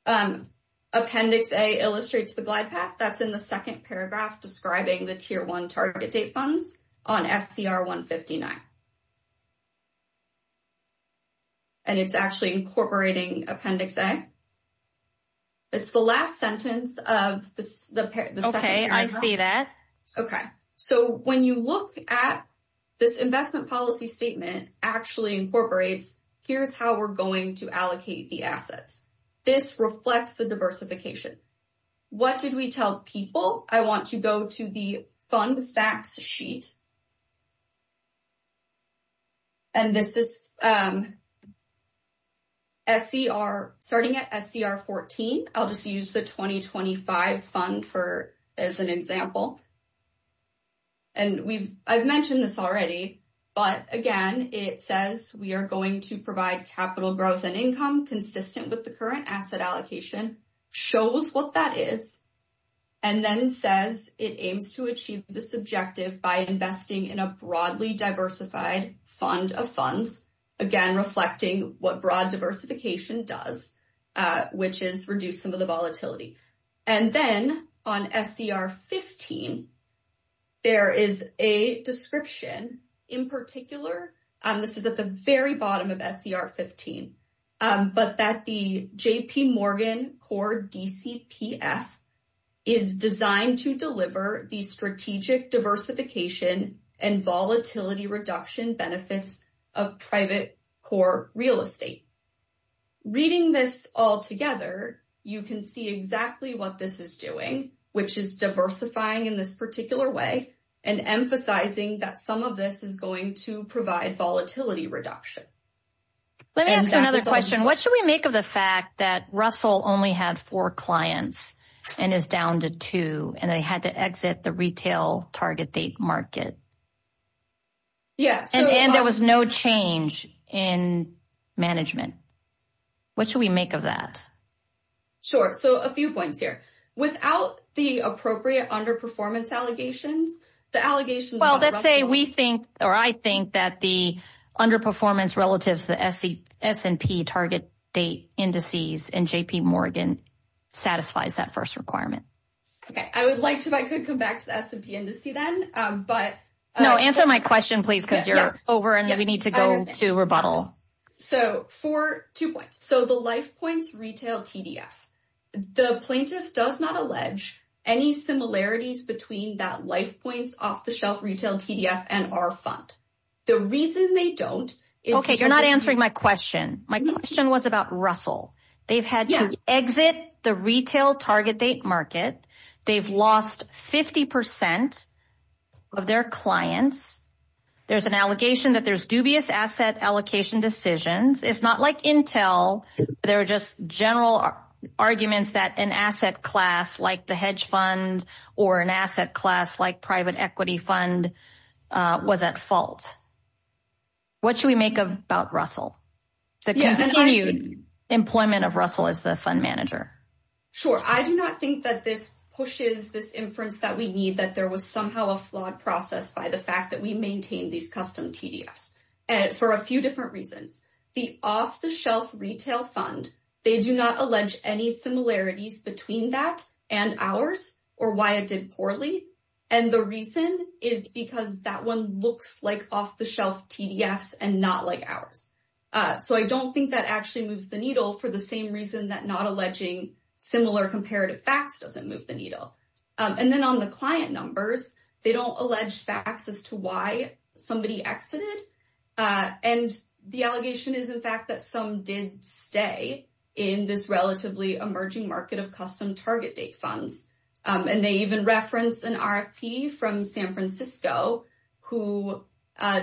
Appendix A illustrates the glide path. That's in the second paragraph describing the tier one target date funds on SCR 159. And it's actually incorporating appendix A. It's the last sentence of the second paragraph. Okay, I see that. Okay. So when you look at this investment policy statement actually incorporates, here's how we're going to allocate the assets. This reflects the diversification. What did we tell people? I want to go to the fund facts sheet. And this is SCR, starting at SCR 14. I'll just use the 2025 fund for, as an example. And we've, I've mentioned this already, but again, it says we are going to provide capital growth and income consistent with the current asset allocation. Shows what that is. And then says it aims to achieve this objective by investing in a broadly diversified fund of funds. Again, reflecting what broad diversification does, which is reduce some of the volatility. And then on SCR 15, there is a description in particular, this is at the very bottom of SCR 15, but that the JP Morgan Core DCPF is designed to deliver the strategic diversification and volatility reduction benefits of private core real estate. Reading this all together, you can see exactly what this is doing, which is diversifying in this particular way and emphasizing that some of this is going to provide volatility reduction. Let me ask you another question. What should we make of the fact that Russell only had four clients and is down to two and they had to exit the retail target date market? Yes. And there was no change in management. What should we make of that? Sure. So a few points here. Without the appropriate underperformance allegations, the allegations... Well, let's say we think, or I think that the underperformance relatives, the S&P target date indices and JP Morgan satisfies that first requirement. Okay. I would like to, if I could come back to the S&P indice then, but... No, answer my question, please, because you're over and we need to go to rebuttal. So for two points. So the life points retail TDF, the plaintiff does not allege any similarities between that life points off the shelf retail TDF and our fund. The reason they don't is... Okay. You're not answering my question. My question was about Russell. They've had to exit the retail target date market. They've lost 50% of their clients. There's an allegation that there's dubious asset allocation decisions. It's not like Intel. There are just general arguments that an asset class like the hedge fund or an asset class like private equity fund was at fault. What should we make about Russell? The continued employment of Russell as the fund manager. Sure. I do not think that this pushes this inference that we need, that there was a flawed process by the fact that we maintain these custom TDFs for a few different reasons. The off the shelf retail fund, they do not allege any similarities between that and ours or why it did poorly. And the reason is because that one looks like off the shelf TDFs and not like ours. So I don't think that actually moves the needle for the same reason that not alleging similar comparative facts doesn't move the needle. And then on the client numbers, they don't allege facts as to why somebody exited. And the allegation is in fact that some did stay in this relatively emerging market of custom target date funds. And they even referenced an RFP from San Francisco who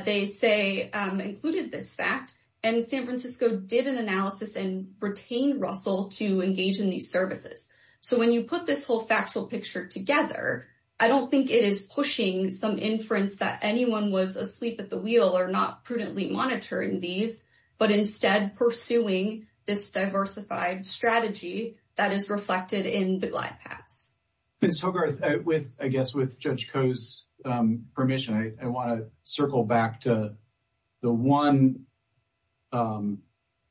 they say included this fact. And San Francisco did an analysis and retained Russell to engage in these services. So when you put this whole factual picture together, I don't think it is pushing some inference that anyone was asleep at the wheel or not prudently monitoring these, but instead pursuing this diversified strategy that is reflected in the glide paths. Ms. Hogarth, I guess with Judge Koh's permission, I want to circle back to the one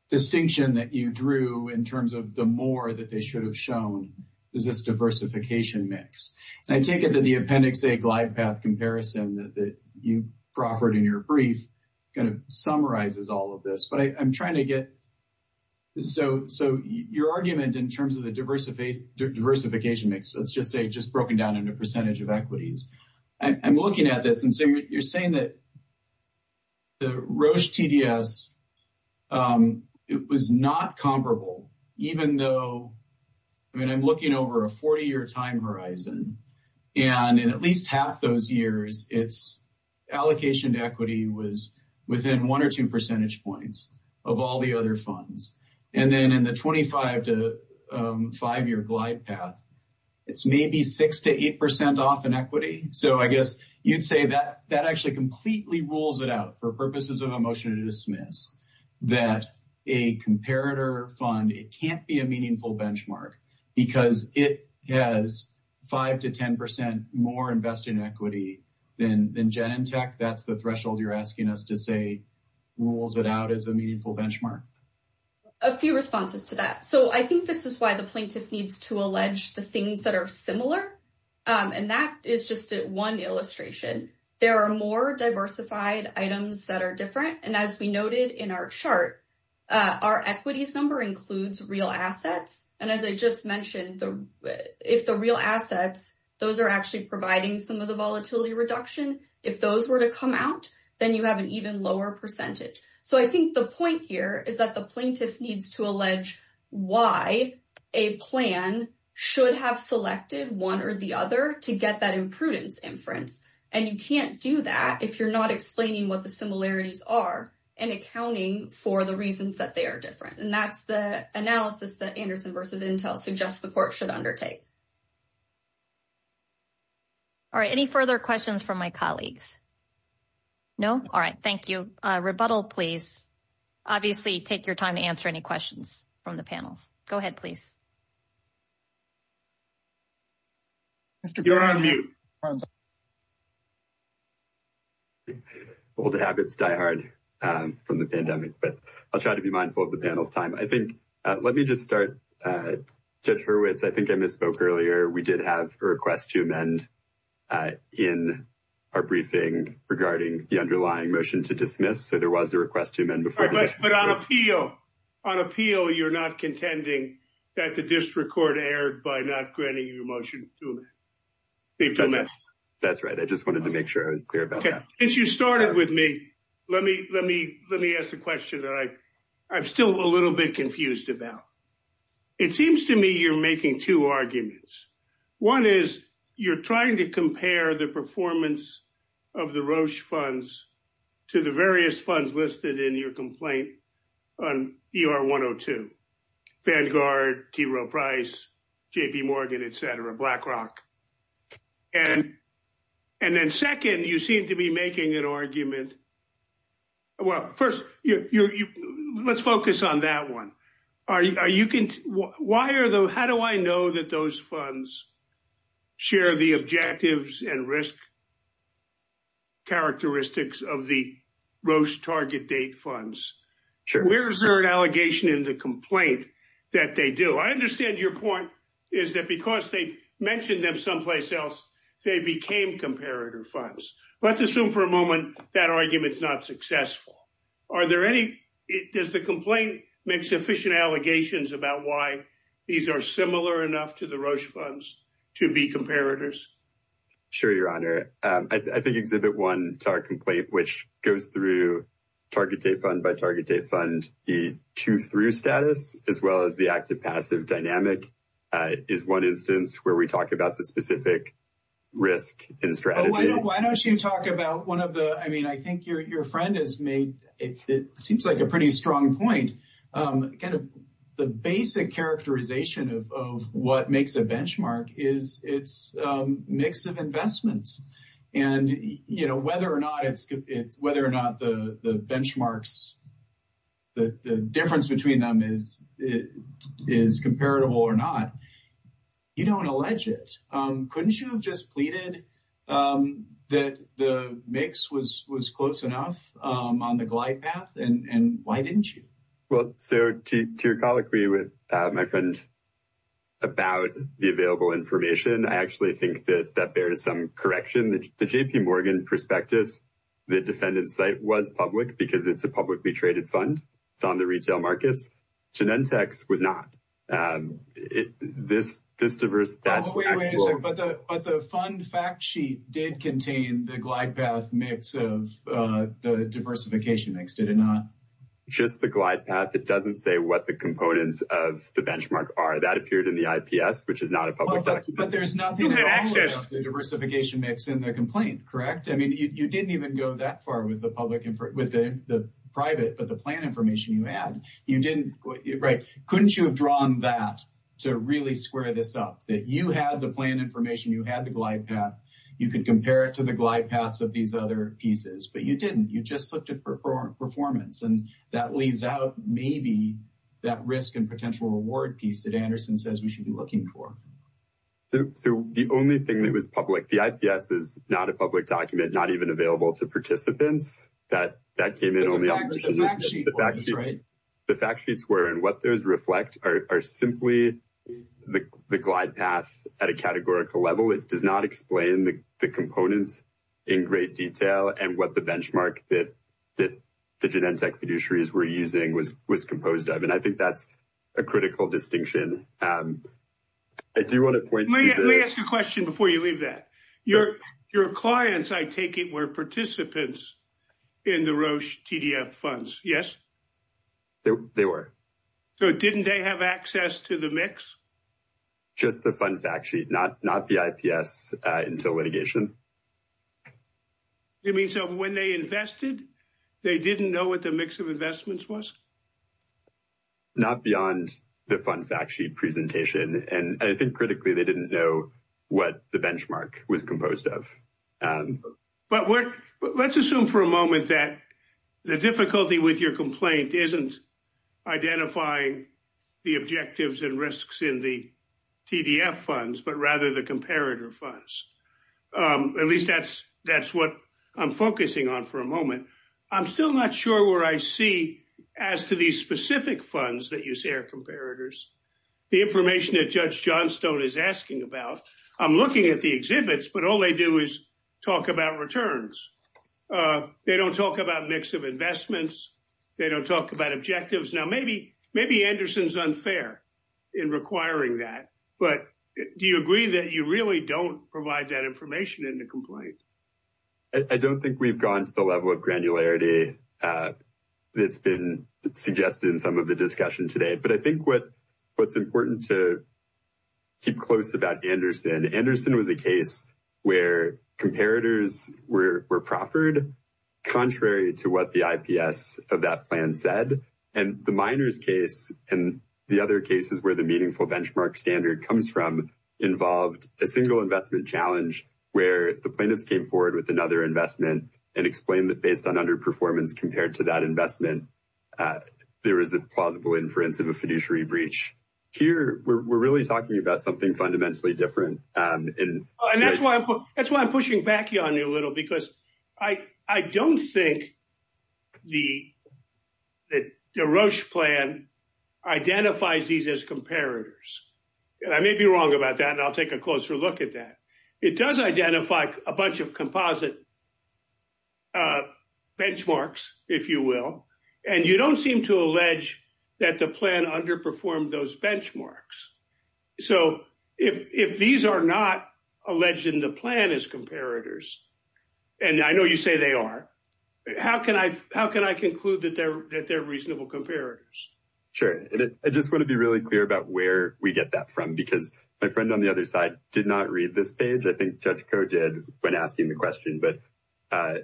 distinction that you drew in terms of the more that they should have shown is this diversification mix. And I take it that the Appendix A glide path comparison that you proffered in your brief kind of summarizes all of this. But I'm trying to get... So your argument in terms of the diversification mix, let's just say just broken down into percentage of equities. I'm looking at this and you're saying that the Roche TDS was not comparable, even though, I mean, I'm looking over a 40-year time horizon. And in at least half those years, its allocation to equity was within one or two percentage points of all the other funds. And then in the 25 to five-year glide path, it's maybe 6% to 8% off in equity. So I guess you'd say that actually completely rules it out for purposes of a motion to dismiss that a comparator fund, it can't be a meaningful benchmark because it has 5% to 10% more invested in equity than Genentech. That's the threshold you're asking us to say rules it out as a meaningful benchmark. A few responses to that. So I think this is why the plaintiff needs to allege the things that are similar. And that is just one illustration. There are more diversified items that are different. And as we noted in our chart, our equities number includes real assets. And as I just mentioned, if the real assets, those are actually providing some of the volatility reduction. If those were to come out, then you have an even lower percentage. So I think the point here is that the plaintiff needs to allege why a plan should have selected one or the other to get that imprudence inference. And you can't do that if you're not explaining what the similarities are and accounting for the reasons that they are different. And that's the analysis that Anderson versus Intel suggests the court should undertake. All right. Any further questions from my colleagues? No? All right. Thank you. Rebuttal, please. Obviously, take your time to answer any questions from the panel. Go ahead, please. You're on mute. Old habits die hard from the pandemic, but I'll try to be mindful of the panel's time. I think, let me just start. Judge Hurwitz, I think I misspoke earlier. We did have a request to amend in our briefing regarding the underlying motion to dismiss. So there was a request to amend before. But on appeal, on appeal, you're not contending that the district court erred by not granting you a motion to amend? That's right. I just wanted to make sure I was clear about that. Since you started with me, let me ask the question that I'm still a little bit confused about. It seems to me you're making two arguments. One is you're trying to compare the performance of the Roche funds to the various funds listed in your complaint on ER 102, Vanguard, T. Rowe Price, JP Morgan, et cetera, BlackRock. And then second, you seem to be making an argument. Well, first, let's focus on that one. How do I know that those funds share the objectives and risk characteristics of the Roche target date funds? Where is there an allegation in the complaint that they do? I understand your point is that because they mentioned them someplace else, they became comparator funds. Let's assume for a moment that argument is not successful. Does the complaint make sufficient allegations about why these are similar enough to the Roche funds to be comparators? Sure, Your Honor. I think Exhibit 1 to our complaint, which goes through target date fund by target date fund, the two-through status as well as the active-passive dynamic is one instance where we talk about the specific risk and strategy. Why don't you talk about one of the, I mean, I think your friend has made, it seems like a pretty strong point. The basic characterization of what makes a benchmark is it's a mix of investments. And whether or not the benchmarks, the difference between them is comparable or not, you don't allege it. Couldn't you have just pleaded that the mix was close enough on the glide path? And why didn't you? Well, sir, to colloquy with my friend about the available information, I actually think that that bears some correction. The J.P. Morgan prospectus, the defendant's site was public because it's a publicly traded fund. It's on the retail markets. Genentech's was not. But the fund fact sheet did contain the glide path mix of the diversification mix, did it not? Just the glide path. It doesn't say what the components of the benchmark are. That appeared in the IPS, which is not a public document. But there's nothing at all about the diversification mix in the complaint, correct? I mean, you didn't even go that far with the public, with the private, but the plan information you had, you didn't, right? Couldn't you have drawn that to really square this up? That you had the plan information, you had the glide path, you could compare it to the glide paths of these other pieces, but you didn't. You just looked at performance. And that leaves out maybe that risk and potential reward piece that Anderson says we should be looking for. So the only thing that was public, the IPS is not a public document, not even available to participants. That came in on the fact sheet. The fact sheets were, and what those reflect are simply the glide path at a categorical level. It does not explain the components in great detail and what the benchmark that the Genentech fiduciaries were using was composed of. And I think that's a critical distinction. I do want to point to the- Let me ask you a question before you leave that. Your clients, I take it, were participants in the Roche TDF funds, yes? They were. So didn't they have access to the mix? Just the fund fact sheet, not the IPS until litigation. You mean so when they invested, they didn't know what the mix of investments was? Not beyond the fund fact sheet presentation. And I think critically, they didn't know what the benchmark was composed of. But let's assume for a moment that the difficulty with your complaint isn't identifying the objectives and risks in the TDF funds, but rather the comparator funds. At least that's what I'm focusing on for a moment. I'm still not sure where I see, as to these specific funds that you say are comparators, the information that Judge Johnstone is asking about. I'm looking at the exhibits, but all they do is talk about returns. They don't talk about mix of investments. They don't talk about objectives. Now, maybe Anderson's unfair in requiring that. But do you agree that you really don't provide that information in the complaint? I don't think we've gone to the level of granularity that's been suggested in some of the discussion today. But I think what's important to keep close about Anderson, Anderson was a case where comparators were proffered, contrary to what the IPS of that plan said. And the miners case, and the other cases where the meaningful benchmark standard comes from, involved a single investment challenge where the plaintiffs came forward with another investment and explained that based on underperformance compared to that investment, there is a plausible inference of a fiduciary breach. Here, we're really talking about something fundamentally different. And that's why I'm pushing back on you a little, because I don't think the Roche plan identifies these as comparators. And I may be wrong about that. And I'll take a closer look at that. It does identify a bunch of composite benchmarks, if you will. And you don't seem to allege that the plan underperformed those benchmarks. So if these are not alleged in the plan as comparators, and I know you say they are, how can I conclude that they're reasonable comparators? Sure. I just want to be really clear about where we get that from, because my friend on the other side did not read this page. I think Judge Koh did when asking the question. But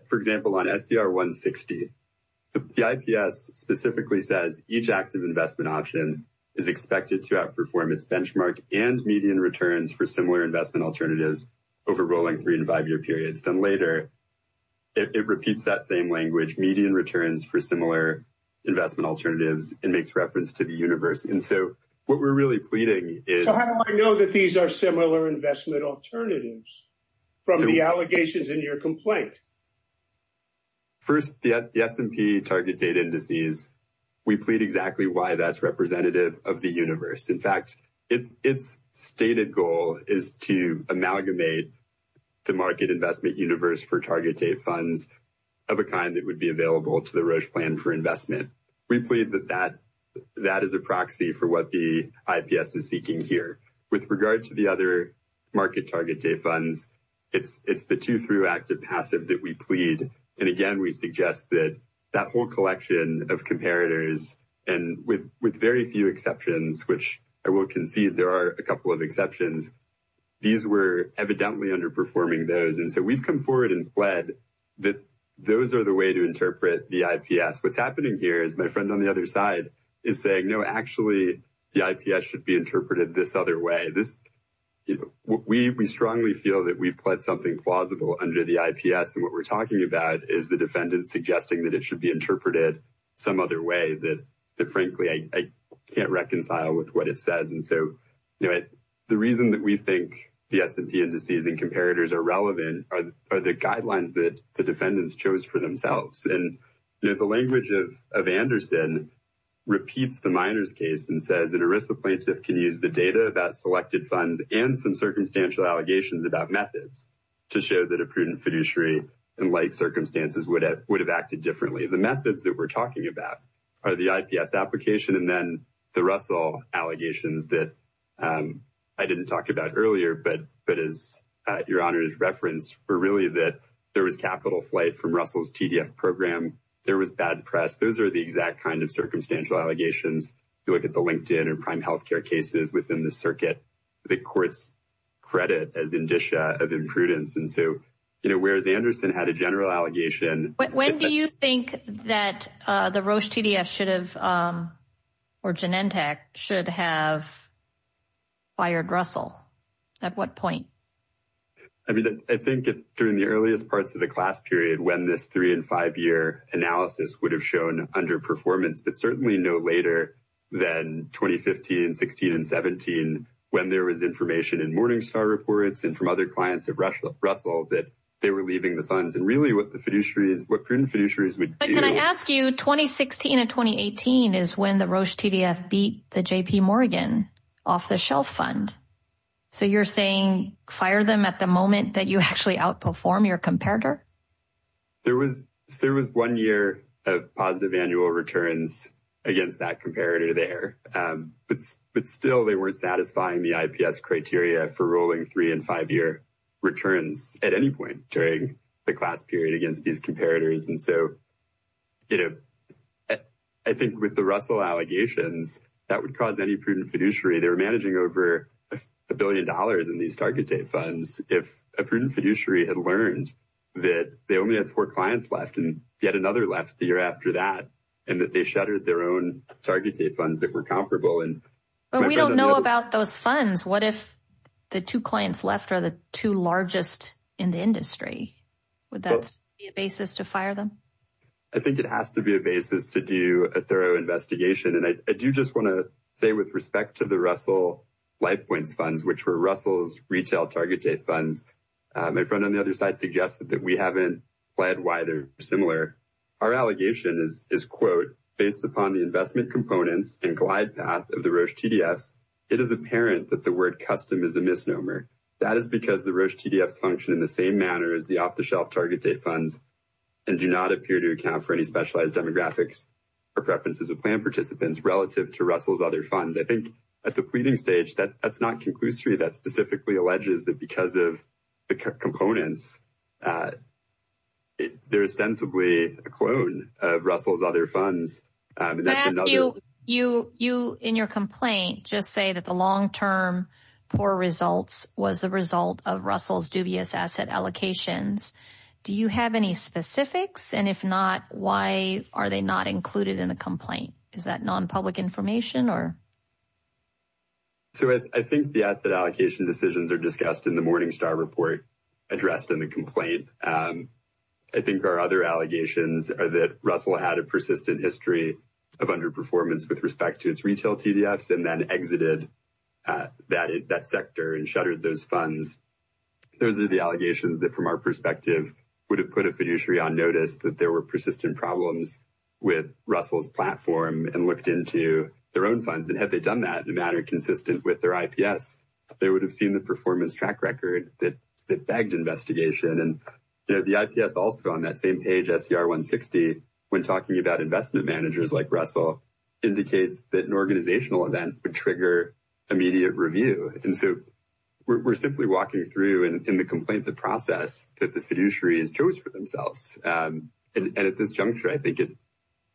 for example, on SCR 160, the IPS specifically says each active investment option is expected to outperform its benchmark and median returns for similar investment alternatives over rolling three and five year periods. Then later, it repeats that same language, median returns for similar investment alternatives and makes reference to the universe. And so what we're really pleading is... So how do I know that these are similar investment alternatives from the allegations in your complaint? First, the S&P target date indices, we plead exactly why that's representative of the universe. In fact, its stated goal is to amalgamate the market investment universe for target date funds of a kind that would be available to the Roche plan for investment. We plead that that is a proxy for what the IPS is seeking here. With regard to the other market target date funds, it's the two through active passive that we plead. And again, we suggest that that whole collection of comparators and with very few exceptions, which I will concede there are a couple of exceptions, these were evidently underperforming those. And so we've come forward and pled that those are the way to interpret the IPS. What's happening here is my friend on the other side is saying, no, actually, the IPS should be interpreted this other way. We strongly feel that we've pled something plausible under the IPS. And what we're talking about is the defendant suggesting that it should be interpreted some other way that frankly, I can't reconcile with what it says. And so, the reason that we think the S&P indices and comparators are relevant are the guidelines that the defendants chose for themselves. And the language of Anderson repeats the miners case and plaintiff can use the data about selected funds and some circumstantial allegations about methods to show that a prudent fiduciary and like circumstances would have acted differently. The methods that we're talking about are the IPS application and then the Russell allegations that I didn't talk about earlier, but as your honor is referenced for really that there was capital flight from Russell's TDF program. There was bad press. Those are the kind of circumstantial allegations. You look at the LinkedIn or prime healthcare cases within the circuit, the court's credit as indicia of imprudence. And so, whereas Anderson had a general allegation. When do you think that the Roche TDF should have or Genentech should have fired Russell? At what point? I mean, I think during the earliest parts of the class period, when this three and five year analysis would have shown underperformance, but certainly no later than 2015, 16 and 17, when there was information in Morningstar reports and from other clients of Russell that they were leaving the funds and really what the fiduciary is, what prudent fiduciaries would do. Can I ask you, 2016 and 2018 is when the Roche TDF beat the JP Morgan off the shelf fund. So you're saying fire them at the moment that you actually outperform your comparator? There was one year of positive annual returns against that comparator there. But still, they weren't satisfying the IPS criteria for rolling three and five year returns at any point during the class period against these comparators. And so, you know, I think with the Russell allegations that would cause any prudent fiduciary, they were managing over a billion dollars in these target date funds. If a prudent fiduciary had learned that they only had four clients left and yet another left the year after that, and that they shuttered their own target date funds that were comparable. But we don't know about those funds. What if the two clients left are the two largest in the industry? Would that be a basis to fire them? I think it has to be a basis to do a thorough investigation. And I do just want to say with respect to the Russell LifePoints funds, which were Russell's retail target date funds, my friend on the other side suggested that we haven't pled why they're similar. Our allegation is quote, based upon the investment components and glide path of the Roche TDFs, it is apparent that the word custom is a misnomer. That is because the Roche TDFs function in the same manner as the off the shelf target date funds and do not appear to account for any specialized demographics or preferences of plan participants relative to Russell's other funds. I think at the components, they're ostensibly a clone of Russell's other funds. You in your complaint just say that the long-term poor results was the result of Russell's dubious asset allocations. Do you have any specifics? And if not, why are they not included in the complaint? Is that non-public information? So I think the asset allocation decisions are discussed in the Morningstar report, addressed in the complaint. I think our other allegations are that Russell had a persistent history of underperformance with respect to its retail TDFs and then exited that sector and shuttered those funds. Those are the allegations that from our perspective would have put a fiduciary on notice that there were persistent problems with Russell's platform and looked into their own funds. And had they done that in a consistent way with their IPS, they would have seen the performance track record that begged investigation. And the IPS also on that same page, SCR 160, when talking about investment managers like Russell, indicates that an organizational event would trigger immediate review. And so we're simply walking through in the complaint the process that the fiduciaries chose for themselves. And at this juncture, I think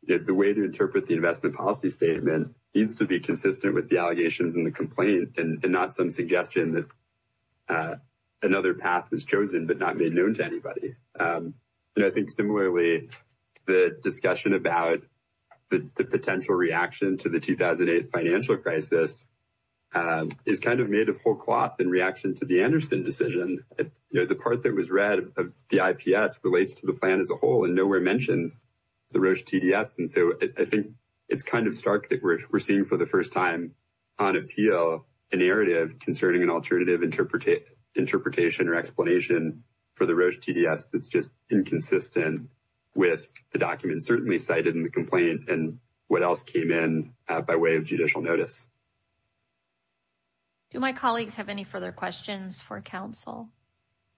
the way to interpret the investment policy statement needs to be consistent with the allegations in the complaint and not some suggestion that another path was chosen but not made known to anybody. And I think similarly, the discussion about the potential reaction to the 2008 financial crisis is kind of made a whole cloth in reaction to the Anderson decision. The part that was read of the IPS relates to the as a whole and nowhere mentions the Roche TDS. And so I think it's kind of stark that we're seeing for the first time on appeal, a narrative concerning an alternative interpretation or explanation for the Roche TDS that's just inconsistent with the documents certainly cited in the complaint and what else came in by way of judicial notice. Do my colleagues have any further questions for counsel?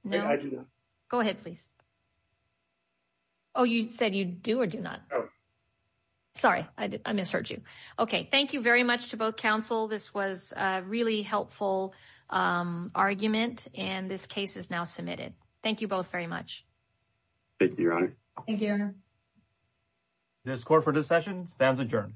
No, I do not. Go ahead, please. Oh, you said you do or do not. Sorry, I misheard you. Okay, thank you very much to both counsel. This was a really helpful argument and this case is now submitted. Thank you both very much. Thank you, Your Honor. Thank you, Your Honor. This court for this session stands adjourned.